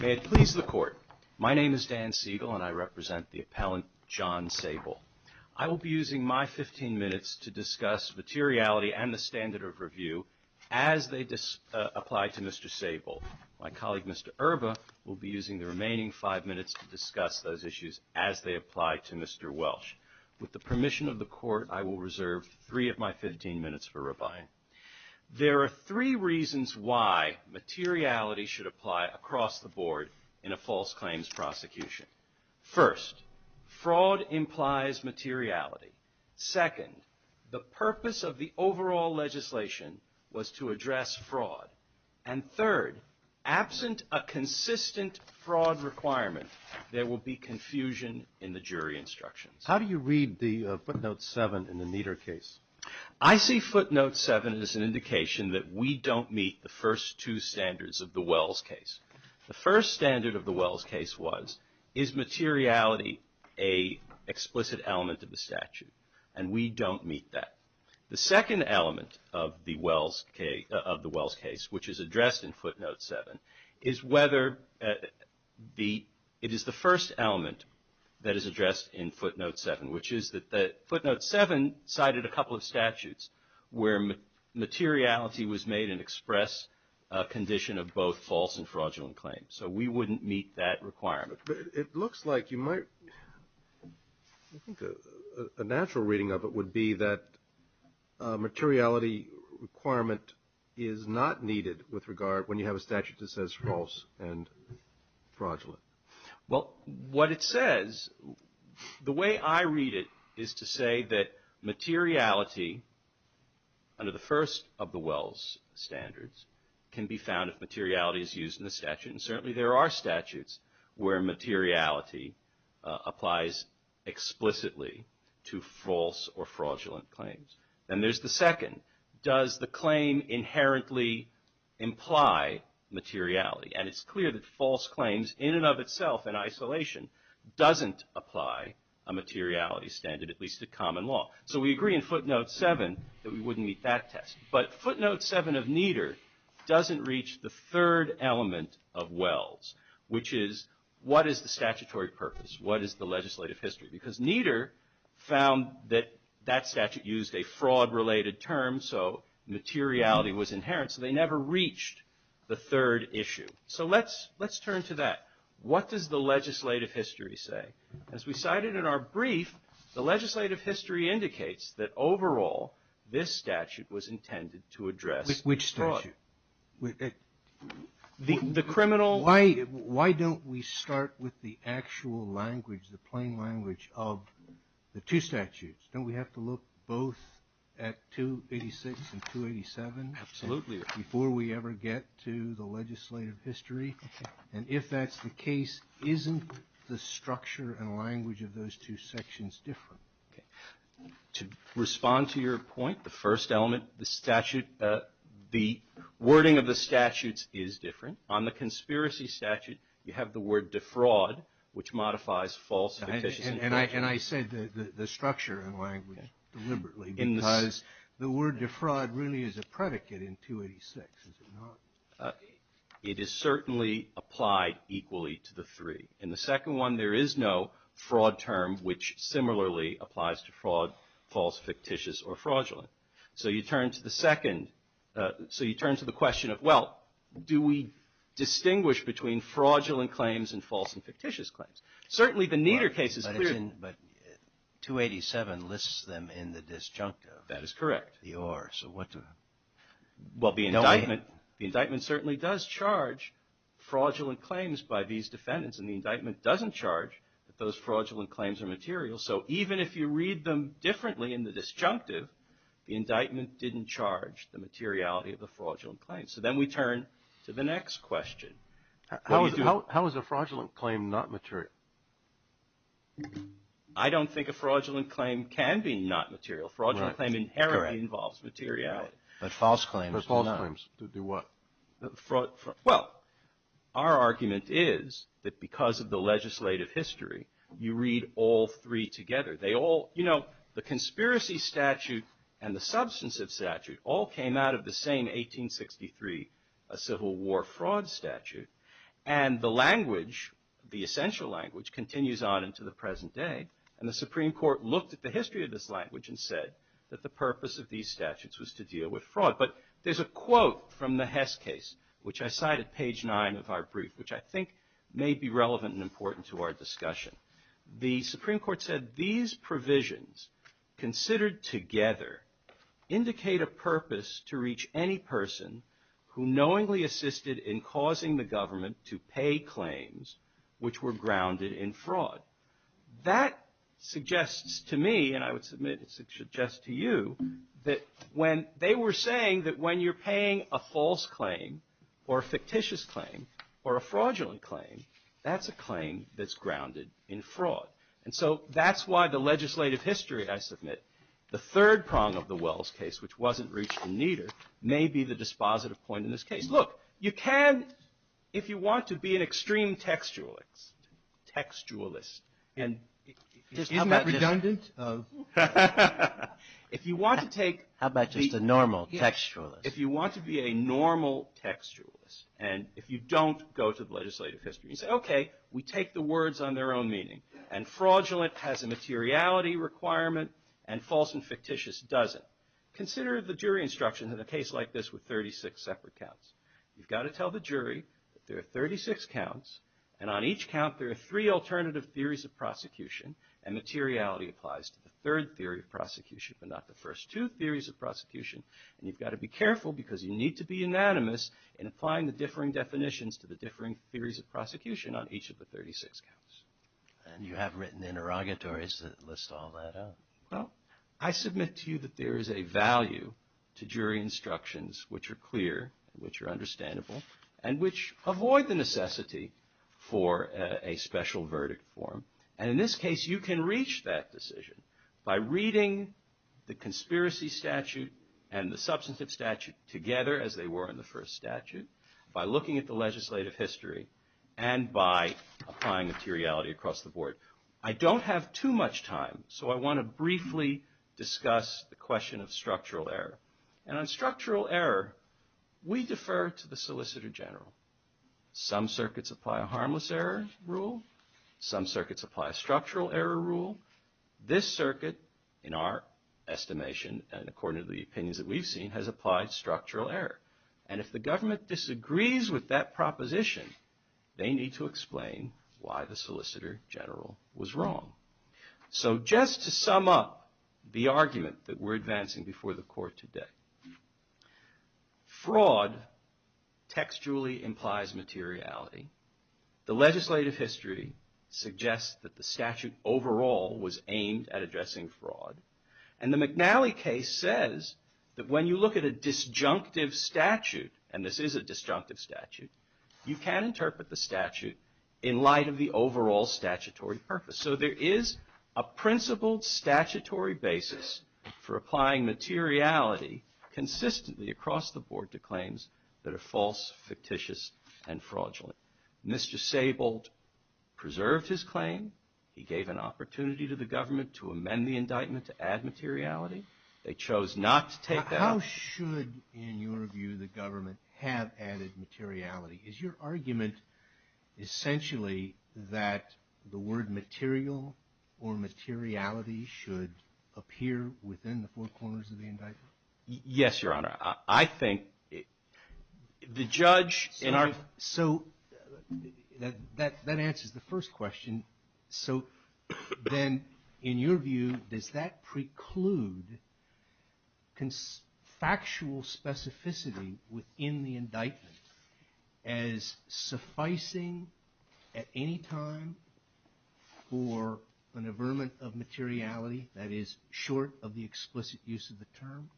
May it please the Court, my name is Dan Siegel and I represent the Appellant John Saybolt. I will be using my fifteen minutes to discuss materiality and the standard of review as they apply to Mr. Saybolt. My colleague Mr. Erba will be using the remaining five minutes to discuss those issues as they apply to Mr. Welch. With the permission of the Court I will reserve three of my fifteen minutes for rebuying. There are three reasons why materiality should apply across the board in a false claims prosecution. First, fraud implies materiality. Second, the purpose of the overall legislation was to address fraud. And third, absent a consistent fraud requirement, there will be confusion in the jury instructions. How do you read the footnote seven in the Meader case? I see footnote seven as an indication that we don't meet the first two standards of the Welch case. The first standard of the Welch case was, is materiality an explicit element of the statute. And we don't meet that. The second element of the Welch case, which is addressed in footnote seven, is whether the, it is the first element that is addressed in footnote seven, which is that footnote seven cited a couple of statutes where materiality was made an express condition of both false and fraudulent claims. So we wouldn't meet that requirement. It looks like you might, I think a natural reading of it would be that materiality requirement is not needed with regard, when you have a statute that says false and fraudulent. Well what it says, the way I read it is to say that materiality under the first of the Welch standards can be found if materiality is used in the statute. And certainly there are statutes where materiality applies explicitly to false or fraudulent claims. And there's the second. Does the claim inherently imply materiality? And it's clear that false claims in and of itself, in isolation, doesn't apply a materiality standard, at least to common law. So we agree in footnote seven that we wouldn't meet that test. But footnote seven of Nieder doesn't reach the third element of Welch, which is what is the statutory purpose? What is the legislative history? Because Nieder found that that statute used a fraud related term, so materiality was inherent. So they never reached the third issue. So let's turn to that. What does the legislative history say? As we cited in our brief, the statute is intended to address fraud. Which statute? The criminal... Why don't we start with the actual language, the plain language of the two statutes? Don't we have to look both at 286 and 287 before we ever get to the legislative history? And if that's the case, isn't the structure and language of those two sections different? To respond to your point, the first element, the statute, the wording of the statutes is different. On the conspiracy statute, you have the word defraud, which modifies false and fictitious... And I said the structure and language deliberately, because the word defraud really is a predicate in 286, is it not? It is certainly applied equally to the three. In the second one, there is no fraud term, which similarly applies to fraud, false, fictitious, or fraudulent. So you turn to the question of, well, do we distinguish between fraudulent claims and false and fictitious claims? Certainly the Neeter case is clear... But 287 lists them in the disjunctive. That is correct. The or, so what do... Well, the indictment certainly does charge fraudulent claims by these defendants, and the indictment doesn't charge that those fraudulent claims are material. So even if you read them differently in the disjunctive, the indictment didn't charge the materiality of the fraudulent claims. So then we turn to the next question. How is a fraudulent claim not material? I don't think a fraudulent claim can be not material. Fraudulent claim inherently involves materiality. But false claims do not. But false claims do what? Well, our argument is that because of the legislative history, you read all three together. They all, you know, the conspiracy statute and the substantive statute all came out of the same 1863 Civil War fraud statute. And the language, the essential language, continues on into the present day. And the Supreme Court looked at the history of this language and said that the purpose of these statutes was to deal with fraud. But there's a quote from the Hess case, which I cite at page nine of our brief, which I think may be relevant and important to our discussion. The Supreme Court said, these provisions considered together indicate a purpose to reach any person who knowingly assisted in causing the government to pay claims which were grounded in fraud. That suggests to me, and I would submit it suggests to you, that when they were saying that when you're paying a false claim or a fictitious claim or a fraudulent claim, that's a claim that's grounded in fraud. And so that's why the legislative history, I submit, the third prong of the Wells case, which wasn't reached in neither, may be the dispositive point in this case. Look, you can, if you want to be an extreme textualist, textualist, and just how about Isn't it redundant? If you want to take. How about just a normal textualist? If you want to be a normal textualist, and if you don't go to the legislative history and say, okay, we take the words on their own meaning. And fraudulent has a materiality requirement and false and fictitious doesn't. Consider the jury instructions in a case like this with 36 separate counts. You've got to tell the jury that there are 36 counts and on each count there are three alternative theories of prosecution and materiality applies to the third theory of prosecution but not the first two theories of prosecution and you've got to be careful because you need to be unanimous in applying the differing definitions to the differing theories of prosecution on each of the 36 counts. And you have written interrogatories that list all that out. Well, I submit to you that there is a value to jury instructions which are clear, which are understandable, and which avoid the necessity for a special verdict form. And in this case you can reach that decision by reading the conspiracy statute and the substantive statute together as they were in the first statute, by looking at the legislative history, and by applying materiality across the board. I don't have too much time so I want to briefly discuss the question of structural error. And on structural error we defer to the Solicitor General. Some circuits apply a harmless error rule. Some circuits apply a structural error rule. This circuit, in our estimation and according to the opinions that we've seen, has applied structural error. And if the government disagrees with that proposition they need to explain why the Solicitor General was wrong. So just to sum up the argument that we're advancing before the court today. Fraud textually implies materiality. The legislative history suggests that the statute overall was aimed at addressing fraud. And the McNally case says that when you look at a disjunctive statute, and this is a disjunctive statute, you can interpret the statute in light of the overall statutory purpose. So there is a principled statutory basis for applying materiality consistently across the board to claims that are false, fictitious, and fraudulent. Mr. Sable preserved his claim. He gave an opportunity to the government to amend the indictment to add materiality. They chose not to take that. How should, in your view, the government have added materiality? Is your argument essentially that the word material or materiality should appear within the four corners of the indictment? Yes, Your Honor. I think the judge in our... So that answers the first question. So then in your view, does that preclude fraudulent factual specificity within the indictment as sufficing at any time for an averment of materiality that is short of the explicit use of the term?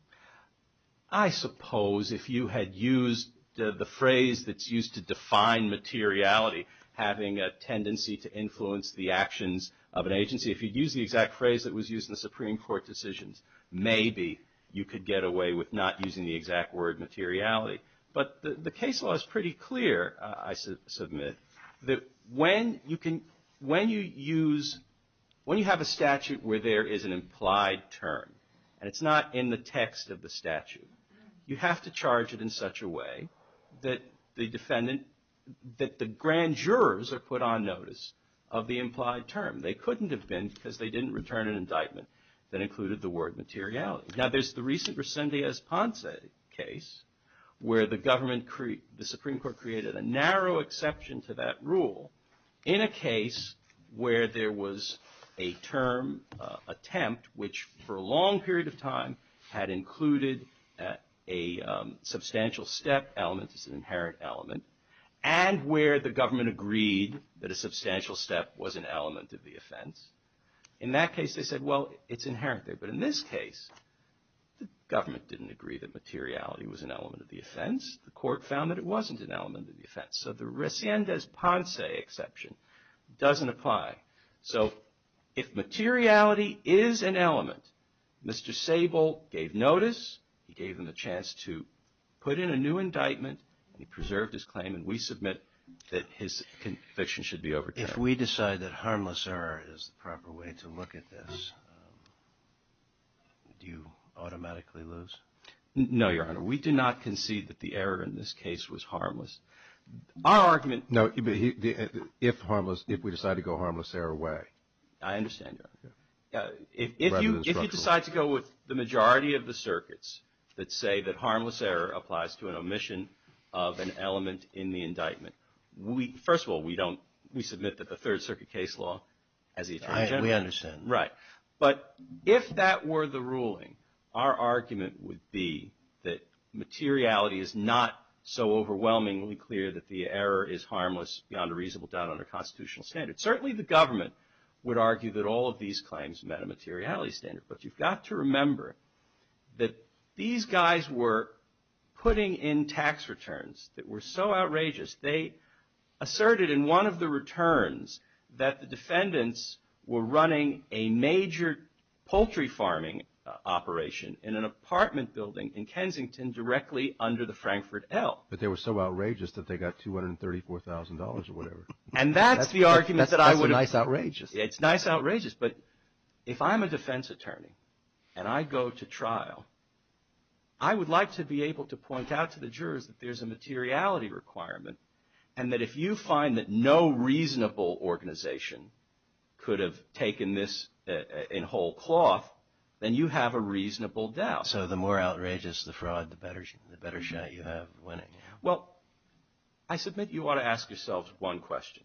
I suppose if you had used the phrase that's used to define materiality, having a tendency to influence the actions of an agency, if you'd used the exact phrase that was used in the Supreme Court decisions, maybe you could get away with not using the exact word materiality. But the case law is pretty clear, I submit, that when you have a statute where there is an implied term and it's not in the text of the statute, you have to charge it in such a way that the defendant, that the grand jurors are put on notice of the implied term. They couldn't have been because they didn't return an indictment that included the word materiality. Now there's the recent Resendez-Ponce case where the government, the Supreme Court created a narrow exception to that rule in a case where there was a term attempt which for a long period of time had included a substantial step element as an element of the offense. In that case they said, well, it's inherent there. But in this case the government didn't agree that materiality was an element of the offense. The court found that it wasn't an element of the offense. So the Resendez-Ponce exception doesn't apply. So if materiality is an element, Mr. Sable gave notice, he gave them a chance to put in a new indictment, he preserved his claim, and we submit that his conviction should be a new indictment. But harmless error is the proper way to look at this. Do you automatically lose? No, Your Honor. We do not concede that the error in this case was harmless. Our argument No, but if we decide to go harmless error way. I understand. If you decide to go with the majority of the circuits that say that harmless error applies to an omission of an element in the indictment, first of all, we submit that the Third Circuit case law has the attorney general. We understand. Right. But if that were the ruling, our argument would be that materiality is not so overwhelmingly clear that the error is harmless beyond a reasonable doubt under constitutional standards. Certainly the government would argue that all of these claims met a materiality standard. But you've got to remember that these guys were putting in tax returns that were so outrageous, they asserted in one of the returns that the defendants were running a major poultry farming operation in an apartment building in Kensington directly under the Frankfurt L. But they were so outrageous that they got $234,000 or whatever. And that's the argument that I would have That's a nice outrageous. It's nice outrageous. But if I'm a defense attorney and I go to trial, I would like to be able to point out to the jurors that there's a materiality requirement, and that if you find that no reasonable organization could have taken this in whole cloth, then you have a reasonable doubt. So the more outrageous the fraud, the better shot you have of winning. Well, I submit you ought to ask yourselves one question.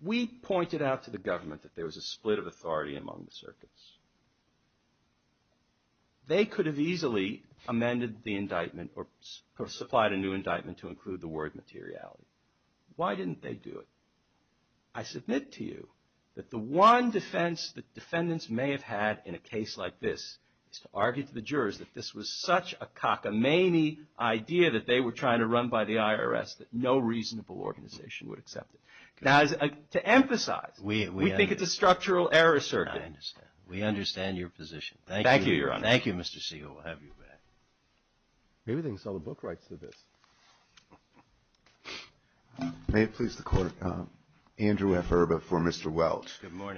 We pointed out to the government that there was a split of authority among the circuits. They could have easily amended the indictment or supplied a new indictment to include the word materiality. Why didn't they do it? I submit to you that the one defense that defendants may have had in a case like this is to argue to the jurors that this was such a cockamamie idea that they were trying to run by the IRS that no reasonable organization would accept it. To emphasize, we think it's a structural error circuit. We understand your position. Thank you, Your Honor. Thank you, Mr. Siegel. We'll have you back. Maybe they can sell the book rights to this. May it please the Court, Andrew F. Erba for Mr. Welch.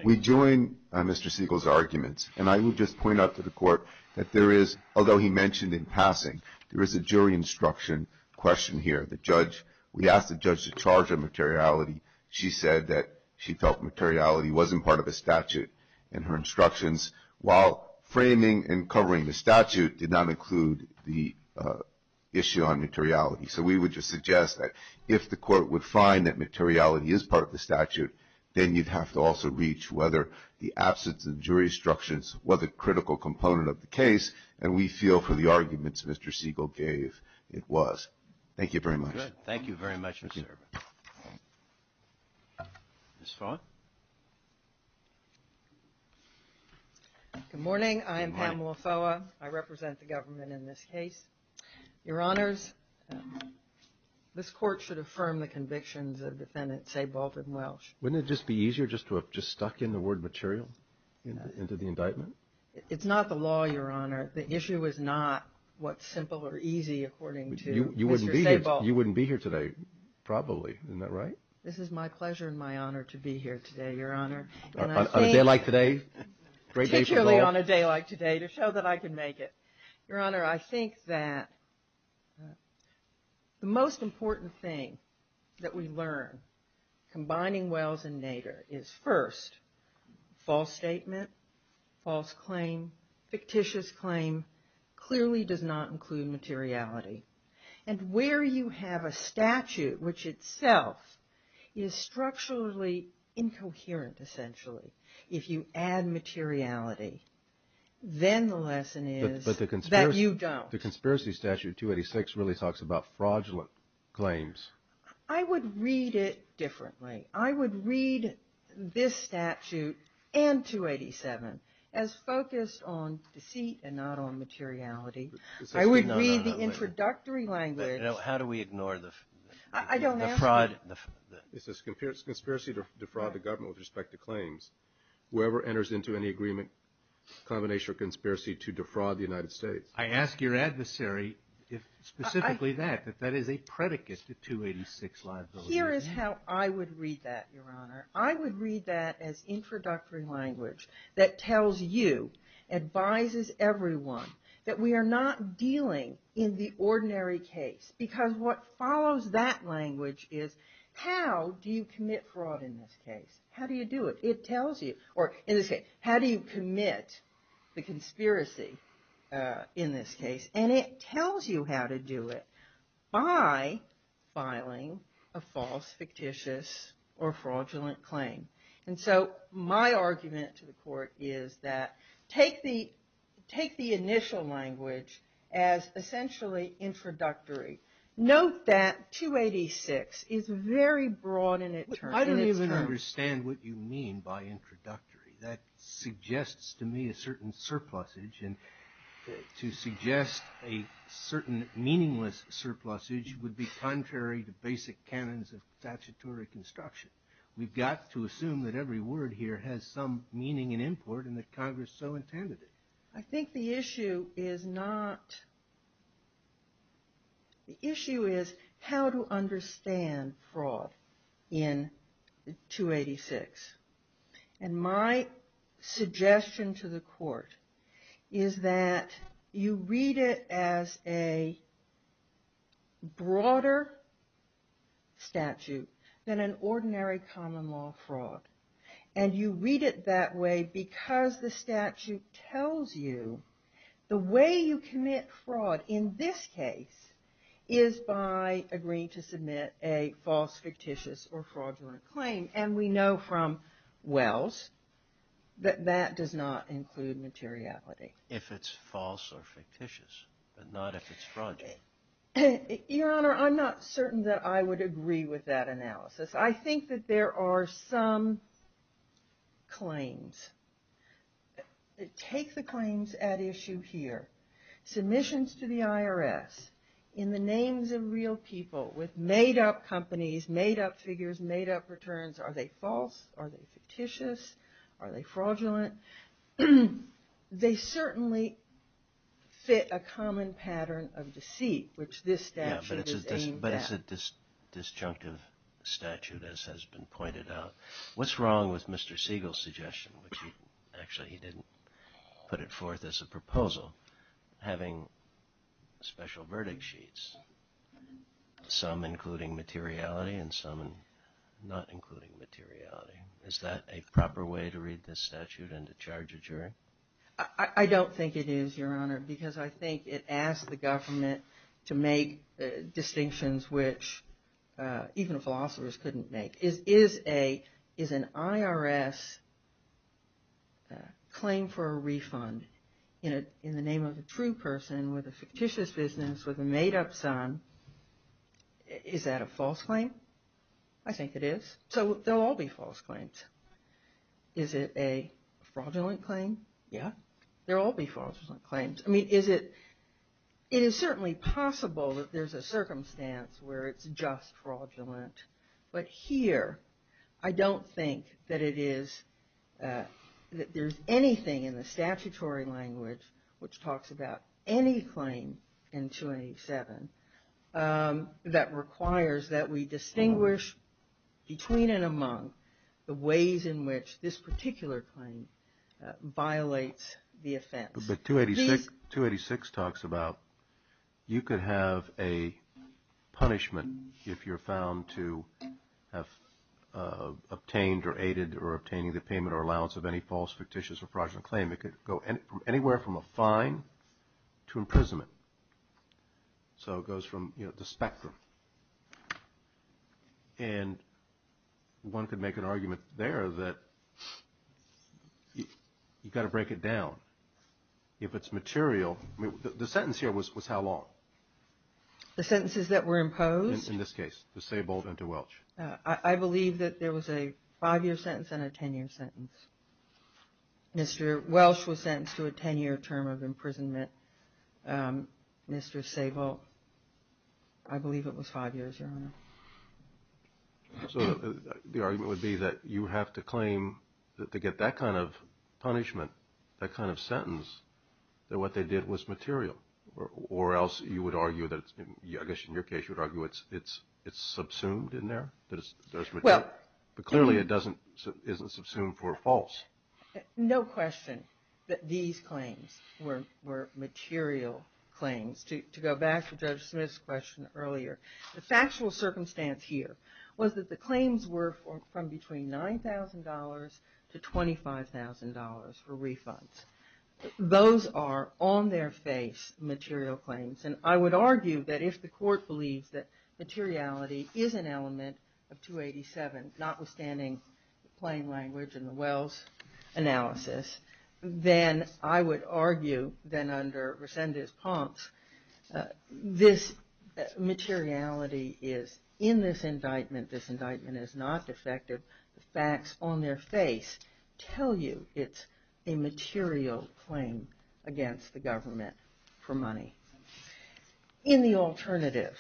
We join Mr. Siegel's arguments, and I will just point out to the Court that there is, although he mentioned in passing, there is a jury instruction question here. The judge, we asked the judge to charge her materiality. She said that she felt materiality wasn't part of the statute in her instructions, while framing and covering the statute did not include the issue on materiality. So we would just suggest that if the Court would find that materiality is part of the statute, then you'd have to also reach whether the absence of jury instructions was a critical component of the case, and we feel for the arguments Mr. Siegel gave, it was. Thank you very much. Thank you very much, Mr. Erba. Ms. Foa? Good morning. I am Pamela Foa. I represent the government in this case. Your Honors, this Court should affirm the convictions of Defendant Sebald and Welch. Wouldn't it just be easier just to have just stuck in the word material into the indictment? It's not the law, Your Honor. The issue is not what's simple or easy according to. You wouldn't be here today, probably, isn't that right? This is my pleasure and my honor to be here today, Your Honor. On a day like today? Particularly on a day like today to show that I can make it. Your Honor, I think that the most important thing that we learn combining Welch and Nader is first, false statement, false claim, fictitious claim clearly does not include materiality. And where you have a statute which itself is structurally incoherent, essentially, if you add materiality, then the lesson is that you don't. The conspiracy statute 286 really talks about fraudulent claims. I would read it differently. I would read this statute and 287 as focused on deceit and not on materiality. I would read the introductory language. How do we ignore the fraud? It says conspiracy to defraud the government with respect to claims. Whoever enters into any agreement, combination of conspiracy to defraud the United States. I ask your adversary specifically that, that that is a predicate to 286 liability. Here is how I would read that, your Honor. I would read that as introductory language that tells you, advises everyone, that we are not dealing in the ordinary case. Because what follows that language is how do you commit fraud in this case? How do you do it? It tells you. Or in this case, how do you commit the conspiracy in this case? And it tells you how to do it by filing a false, fictitious, or fraudulent claim. And so my argument to the court is that take the, take the initial language as essentially introductory. Note that 286 is very broad in its terms. I don't even understand what you mean by introductory. That suggests to me a certain surplusage. And to suggest a certain meaningless surplusage would be contrary to basic canons of statutory construction. We've got to assume that every word here has some meaning and import and that Congress so intended it. I think the issue is not, the issue is how to understand fraud in 286. And my suggestion to the court is that you read it as a broader statute than an ordinary common law fraud. And you read it that way because the statute tells you the way you commit fraud in this case is by agreeing to submit a false, fictitious, or fraudulent claim. And we know from Wells that that does not include materiality. If it's false or fictitious, but not if it's fraudulent. Your Honor, I'm not certain that I would agree with that analysis. I think that there are some claims. Take the claims at issue here. Submissions to the IRS in the names of real people with made up companies, made up figures, made up returns. Are they false? Are they fictitious? Are they fraudulent? They certainly fit a common pattern of deceit, which this statute is aimed at. But it's a disjunctive statute, as has been pointed out. What's wrong with Mr. Siegel's suggestion, which actually he didn't put it forth as a proposal, having special verdict sheets? Some including materiality and some not including materiality. Is that a proper way to read this statute and to charge a jury? I don't think it is, Your Honor, because I think it asks the government to make distinctions which even philosophers couldn't make. Is an IRS claim for a refund in the name of a true person with a fictitious business, with a made up son, is that a false claim? I think it is. So they'll all be false claims. Is it a fraudulent claim? Yeah. They'll all be fraudulent claims. It is certainly possible that there's a circumstance where it's just fraudulent. But here, I don't think that it is, that there's anything in the statutory language which talks about any claim in 287 that requires that we distinguish between and among the ways in which this particular claim violates the offense. But 286 talks about you could have a punishment if you're found to have obtained or aided or obtaining the payment or allowance of any false, fictitious or fraudulent claim. It could go anywhere from a fine to imprisonment. So it goes from the spectrum. And one could make an argument there that you've got to break it down if it's material. The sentence here was how long? The sentences that were imposed? In this case, to Saybolt and to Welch. I believe that there was a five-year sentence and a ten-year sentence. Mr. Welch was sentenced to a ten-year term of imprisonment. Mr. Saybolt, I believe it was five years, Your Honor. So the argument would be that you have to claim that to get that kind of punishment, that kind of sentence, that what they did was material? Or else you would argue that, I guess in your case, you would argue it's subsumed in there? But clearly it isn't subsumed for false. No question that these claims were material claims. To go back to Judge Smith's question earlier, the factual circumstance here was that the claims were from between $9,000 to $25,000 for refunds. Those are on their face material claims. And I would argue that if the court believes that materiality is an element of 287, notwithstanding the plain language and the Welch analysis, then I would argue then under Resendez-Ponce, this materiality is in this indictment. This indictment is not defective. The facts on their face tell you it's a material claim against the government for money. In the alternative,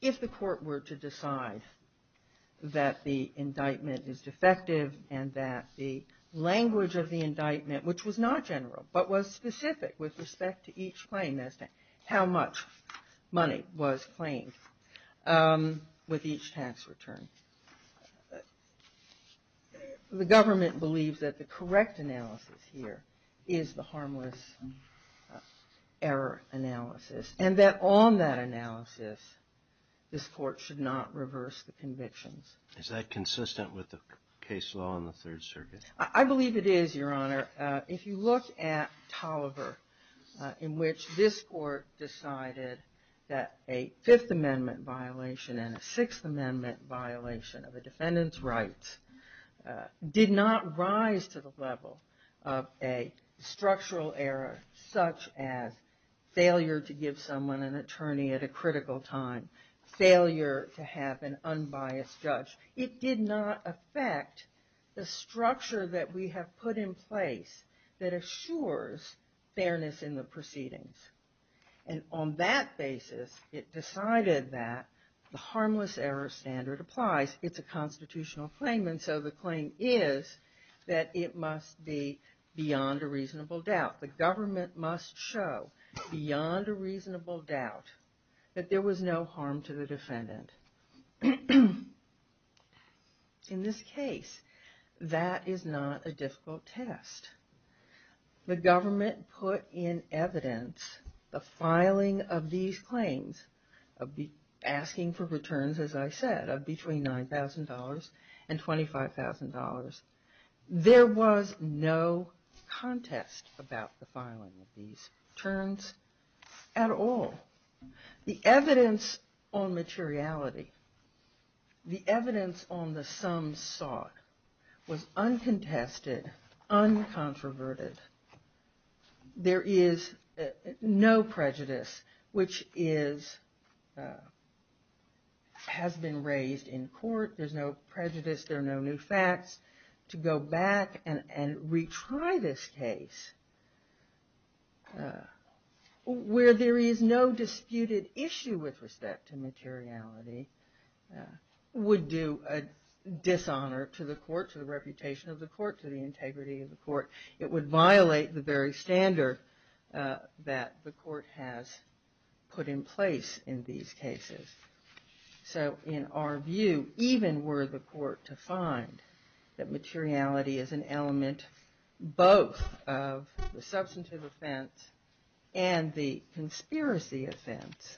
if the court were to decide that the indictment is defective and that the language of the indictment, which was not general, but was specific with respect to each claim, how much money was claimed with each tax return, the government believes that the correct analysis here is the harmless error analysis. And that on that analysis, this court should not reverse the convictions. Is that consistent with the case law in the Third Circuit? I believe it is, Your Honor. If you look at Tolliver, in which this court decided that a Fifth Amendment violation and a Sixth Amendment violation of a defendant's rights did not rise to the level of a structural error such as failure to give someone an attorney at a critical time, failure to have an unbiased judge, it did not affect the structure that we have put in place that assures fairness in the proceedings. And on that basis, it decided that the harmless error standard applies. It's a constitutional claim, and so the claim is that it must be beyond a reasonable doubt. The government must show beyond a reasonable doubt that there was no harm to the defendant. In this case, that is not a difficult test. The government put in evidence the filing of these claims, asking for returns, as I said, of between $9,000 and $25,000. There was no contest about the filing of these terms at all. The evidence on materiality, the evidence on the sums sought, was uncontested, uncontroverted. There is no prejudice, which has been raised in court. There's no prejudice. There are no new facts to go back and retry this case where there is no disputed issue with respect to materiality would do a dishonor to the court, to the reputation of the court, to the integrity of the court. It would violate the very standard that the court has put in place in these cases. So in our view, even were the court to find that materiality is an element, both of the substantive offense and the conspiracy offense,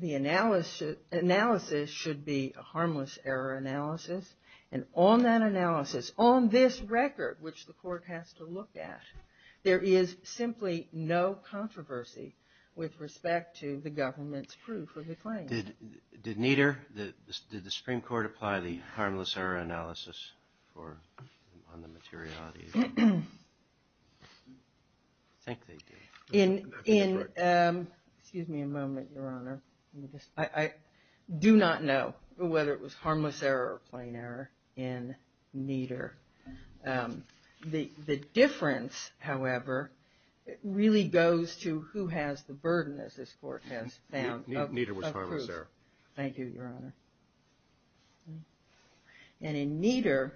the analysis should be a harmless error analysis, and on that analysis, on this record, which the court has to look at, there is simply no controversy with respect to the government's proof of the claim. Did Nieder, did the Supreme Court apply the harmless error analysis on the materiality? I think they did. Excuse me a moment, Your Honor. I do not know whether it was harmless error or plain error in Nieder. The difference, however, really goes to who has the burden, as this court has found, of proof. Nieder was harmless error. Thank you, Your Honor. And in Nieder,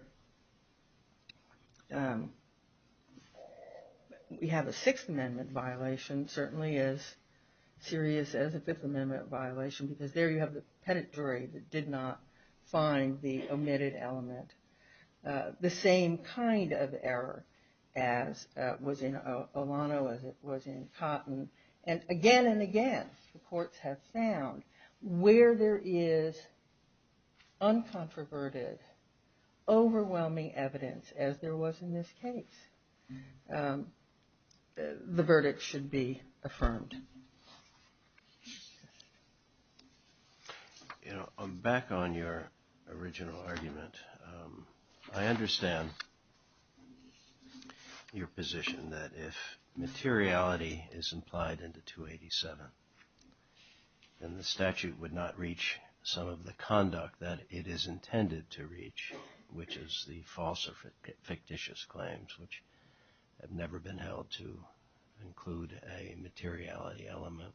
we have a Sixth Amendment violation, certainly as serious as a Fifth Amendment violation, because there you have the pedigree that did not find the omitted element. The same kind of error as was in Olano, as it was in Cotton, and again and again, the courts have found where there is uncontroverted, overwhelming evidence, as there was in this case, the verdict should be affirmed. You know, back on your original argument, I understand your position that if materiality is implied into 287, then the statute would not reach some of the conduct that it is intended to reach, which is the false or fictitious claims, which have never been held to include a materiality element.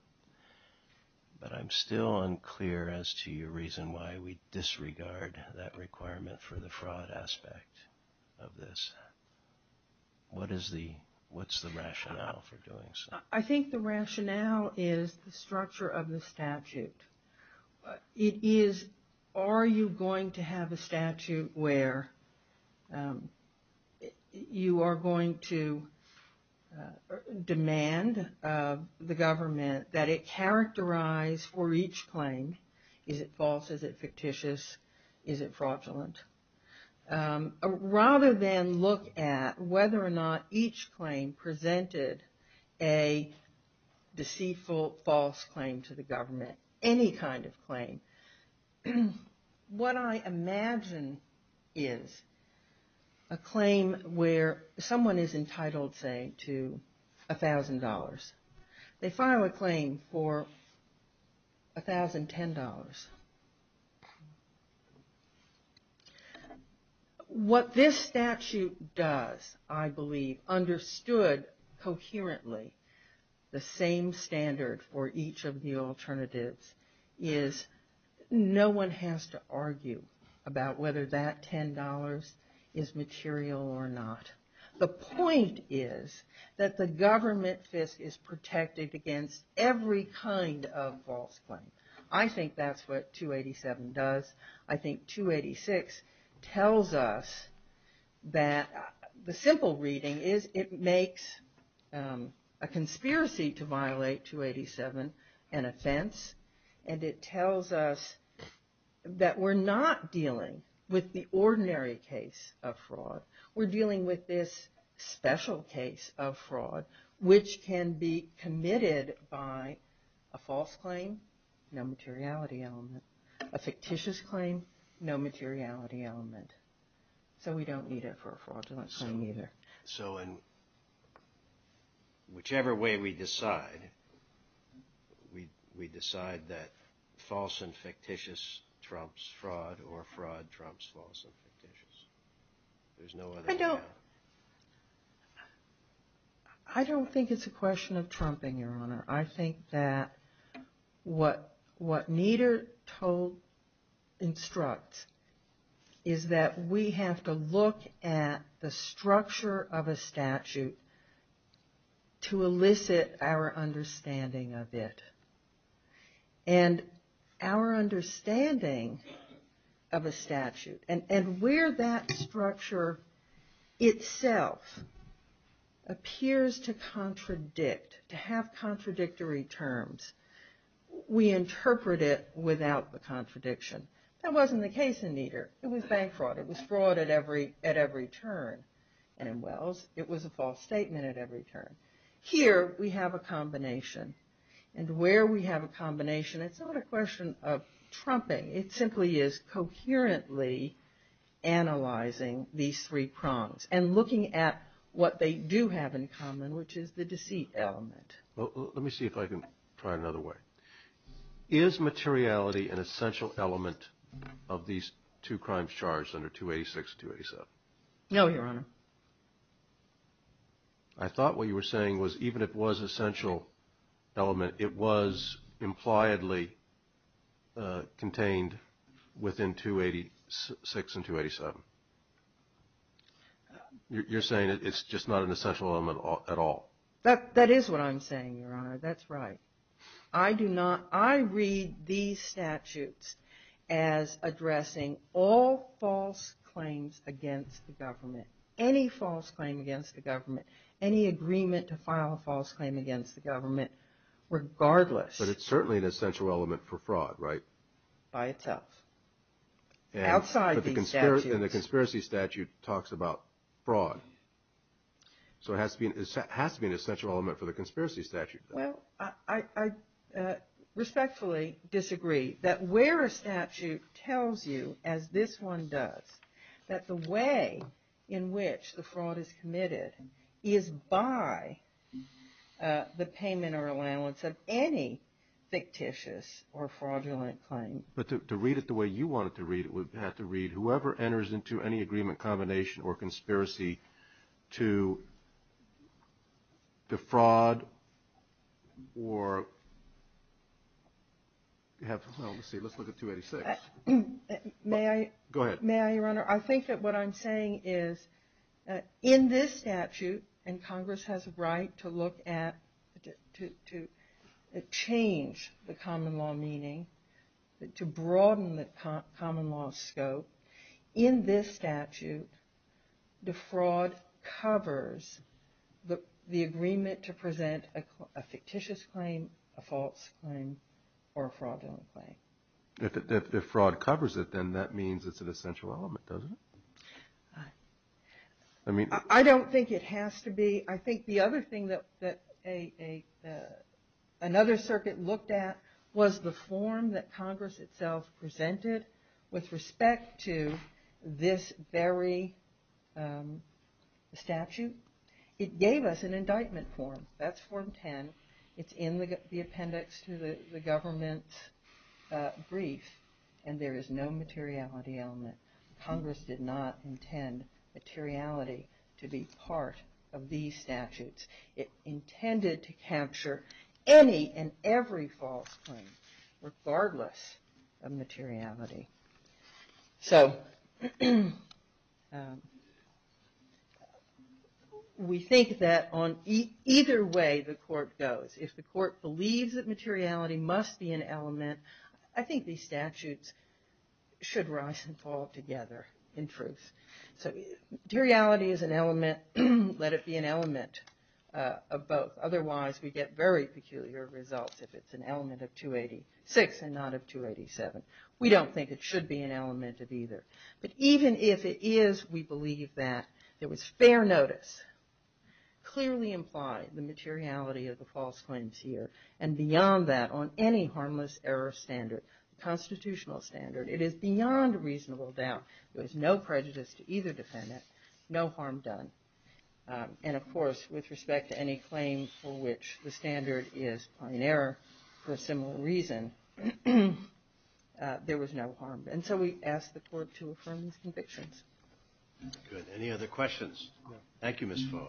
But I'm still unclear as to your reason why we disregard that requirement for the fraud aspect of this. What's the rationale for doing so? I think the rationale is the structure of the statute. Are you going to have a statute where you are going to demand the government that it characterize for each claim, is it false, is it fictitious, is it fraudulent? Rather than look at whether or not each claim presented a deceitful, false claim to the government, any kind of claim. What I imagine is a claim where someone is entitled, say, to $1,000. They file a claim for $1,010. What this statute does, I believe, understood coherently, the same standard for each of the alternatives is no one has to argue about whether that $10 is material or not. The point is that the government is protected against every kind of false claim. I think that's what 287 does. I think 286 tells us that the simple reading is it makes a conspiracy to violate 287 an offense, and it tells us that we're not dealing with the ordinary case of fraud. A fictitious claim, no materiality element. So we don't need it for a fraudulent claim either. So in whichever way we decide, we decide that false and fictitious trumps fraud or fraud trumps false and fictitious. I don't think it's a question of trumping, Your Honor. I think that what Nieder told, instructs, is that we have to look at the structure of a statute to elicit our understanding of it. And our understanding of a statute, and where that structure itself appears to contradict, to have contradictory terms, we interpret it without the contradiction. That wasn't the case in Nieder. It was bank fraud. It was fraud at every turn. And in Wells, it was a false statement at every turn. Here we have a combination. And where we have a combination, it's not a question of trumping. It simply is coherently analyzing these three prongs and looking at what they do have in common, which is the deceit element. Let me see if I can try another way. Is materiality an essential element of these two crimes charged under 286 and 287? No, Your Honor. I thought what you were saying was even if it was an essential element, it was impliedly contained within 286 and 287. You're saying it's just not an essential element at all. That is what I'm saying, Your Honor. That's right. I read these statutes as addressing all false claims against the government, any false claim against the government, any agreement to file a false claim against the government, regardless. But it's certainly an essential element for fraud, right? By itself. And the conspiracy statute talks about fraud. So it has to be an essential element for the conspiracy statute. Well, I respectfully disagree that where a statute tells you, as this one does, that the way in which the fraud is committed is by the payment or allowance of any fictitious or fraudulent claim. But to read it the way you want it to read, it would have to read, whoever enters into any agreement, combination, or conspiracy to defraud or have, Your Honor, I think that what I'm saying is in this statute, and Congress has a right to look at, to change the common law meaning, to broaden the common law scope, in this statute, defraud covers the agreement to present a fictitious claim, a false claim, or a fraudulent claim. If fraud covers it, then that means it's an essential element, doesn't it? I don't think it has to be. I think the other thing that another circuit looked at was the form that Congress itself presented with respect to this very statute. It gave us an indictment form. That's form 10. It's in the appendix to the government's brief, and there is no materiality element. Congress did not intend materiality to be part of these statutes. It intended to capture any and every false claim, regardless of materiality. We think that on either way the court goes, if the court believes that materiality must be an element, I think these statutes should rise and fall together in truth. Materiality is an element. Let it be an element of both. Otherwise we get very peculiar results if it's an element of 286 and not of 287. We don't think it should be an element of either. But even if it is, we believe that there was fair notice, clearly implied the materiality of the false claims here, and beyond that on any harmless error standard, constitutional standard, it is beyond reasonable doubt. There is no prejudice to either defendant, no harm done. And of course, with respect to any claim for which the standard is an error for a similar reason, there was no harm. And so we ask the court to affirm these convictions. Good. Any other questions? Thank you, Ms. Voa.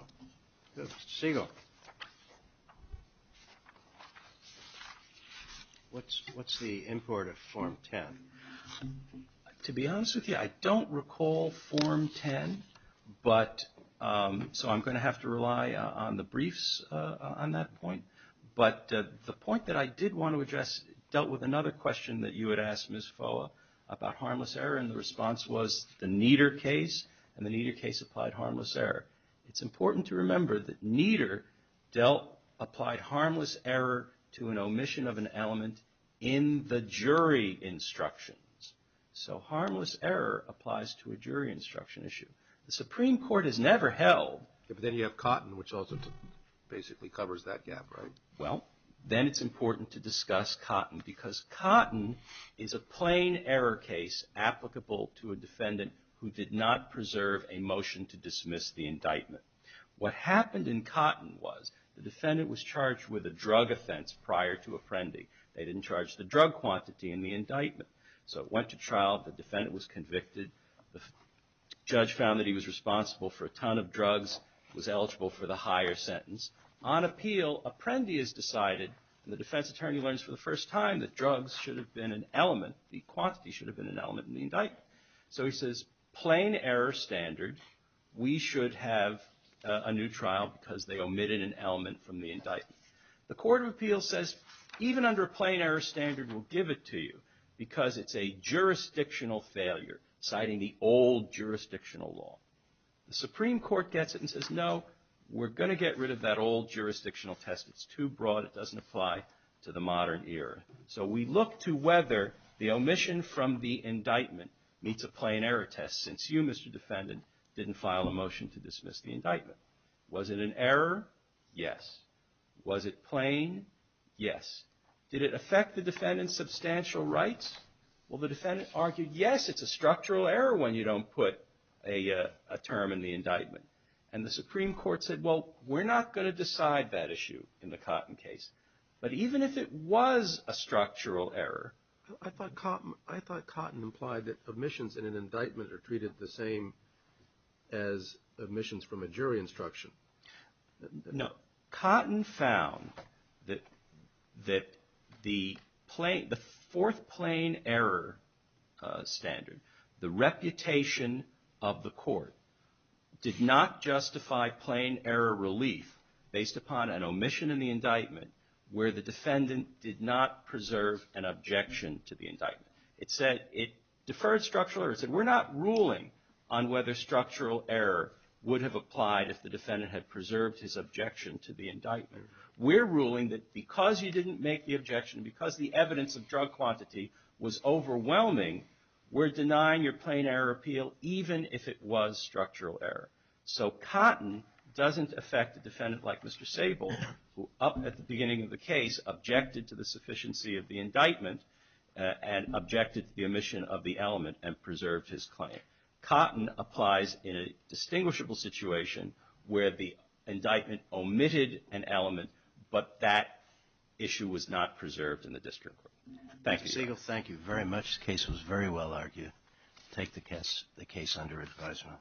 What's the import of form 10? To be honest with you, I don't recall form 10, so I'm going to have to rely on the briefs on that point. But the point that I did want to address dealt with another question that you had asked, Ms. Voa, about harmless error, and the response was the Nieder case, and the Nieder case applied harmless error. It's important to remember that Nieder applied harmless error to an omission of an element in the jury instructions. So harmless error applies to a jury instruction issue. The Supreme Court has never held... But then you have Cotton, which also basically covers that gap, right? Well, then it's important to discuss Cotton, because Cotton is a plain error case applicable to a defendant who did not preserve a motion to dismiss the indictment. What happened in Cotton was the defendant was charged with a drug offense prior to Apprendi. They didn't charge the drug quantity in the indictment. So it went to trial, the defendant was convicted, the judge found that he was responsible for a ton of drugs, was eligible for the higher sentence. On appeal, Apprendi has decided, and the defense attorney learns for the first time, that drugs should have been an element, the quantity should have been an element in the indictment. So he says, plain error standard, we should have a new trial, because they omitted an element from the indictment. The court of appeals says, even under a plain error standard, we'll give it to you, because it's a jurisdictional failure, citing the old jurisdictional law. The Supreme Court gets it and says, no, we're going to get rid of that old jurisdictional test. It's too broad, it doesn't apply to the modern era. So we look to whether the omission from the indictment meets a plain error test, since you, Mr. Defendant, didn't file a motion to dismiss the indictment. Was it an error? Yes. Was it plain? Yes. Did it affect the defendant's substantial rights? Well, the defendant argued, yes, it's a structural error when you don't put a term in the indictment. And the Supreme Court said, well, we're not going to decide that issue in the Cotton case. But even if it was a structural error. I thought Cotton implied that omissions in an indictment are treated the same as omissions from a jury instruction. No. Cotton found that the fourth plain error standard, the reputation of the court, did not justify plain error relief based upon an omission in the indictment where the defendant did not preserve an objection to the indictment. It said it deferred structural errors. We're ruling that because you didn't make the objection, because the evidence of drug quantity was overwhelming, we're denying your plain error appeal even if it was structural error. So Cotton doesn't affect a defendant like Mr. Sable, who up at the beginning of the case objected to the sufficiency of the indictment and objected to the omission of the element and preserved his claim. Cotton applies in a distinguishable situation where the indictment omitted an element, but that issue was not preserved in the district court. Thank you. Sable, thank you very much. The case was very well argued. Take the case under advisement.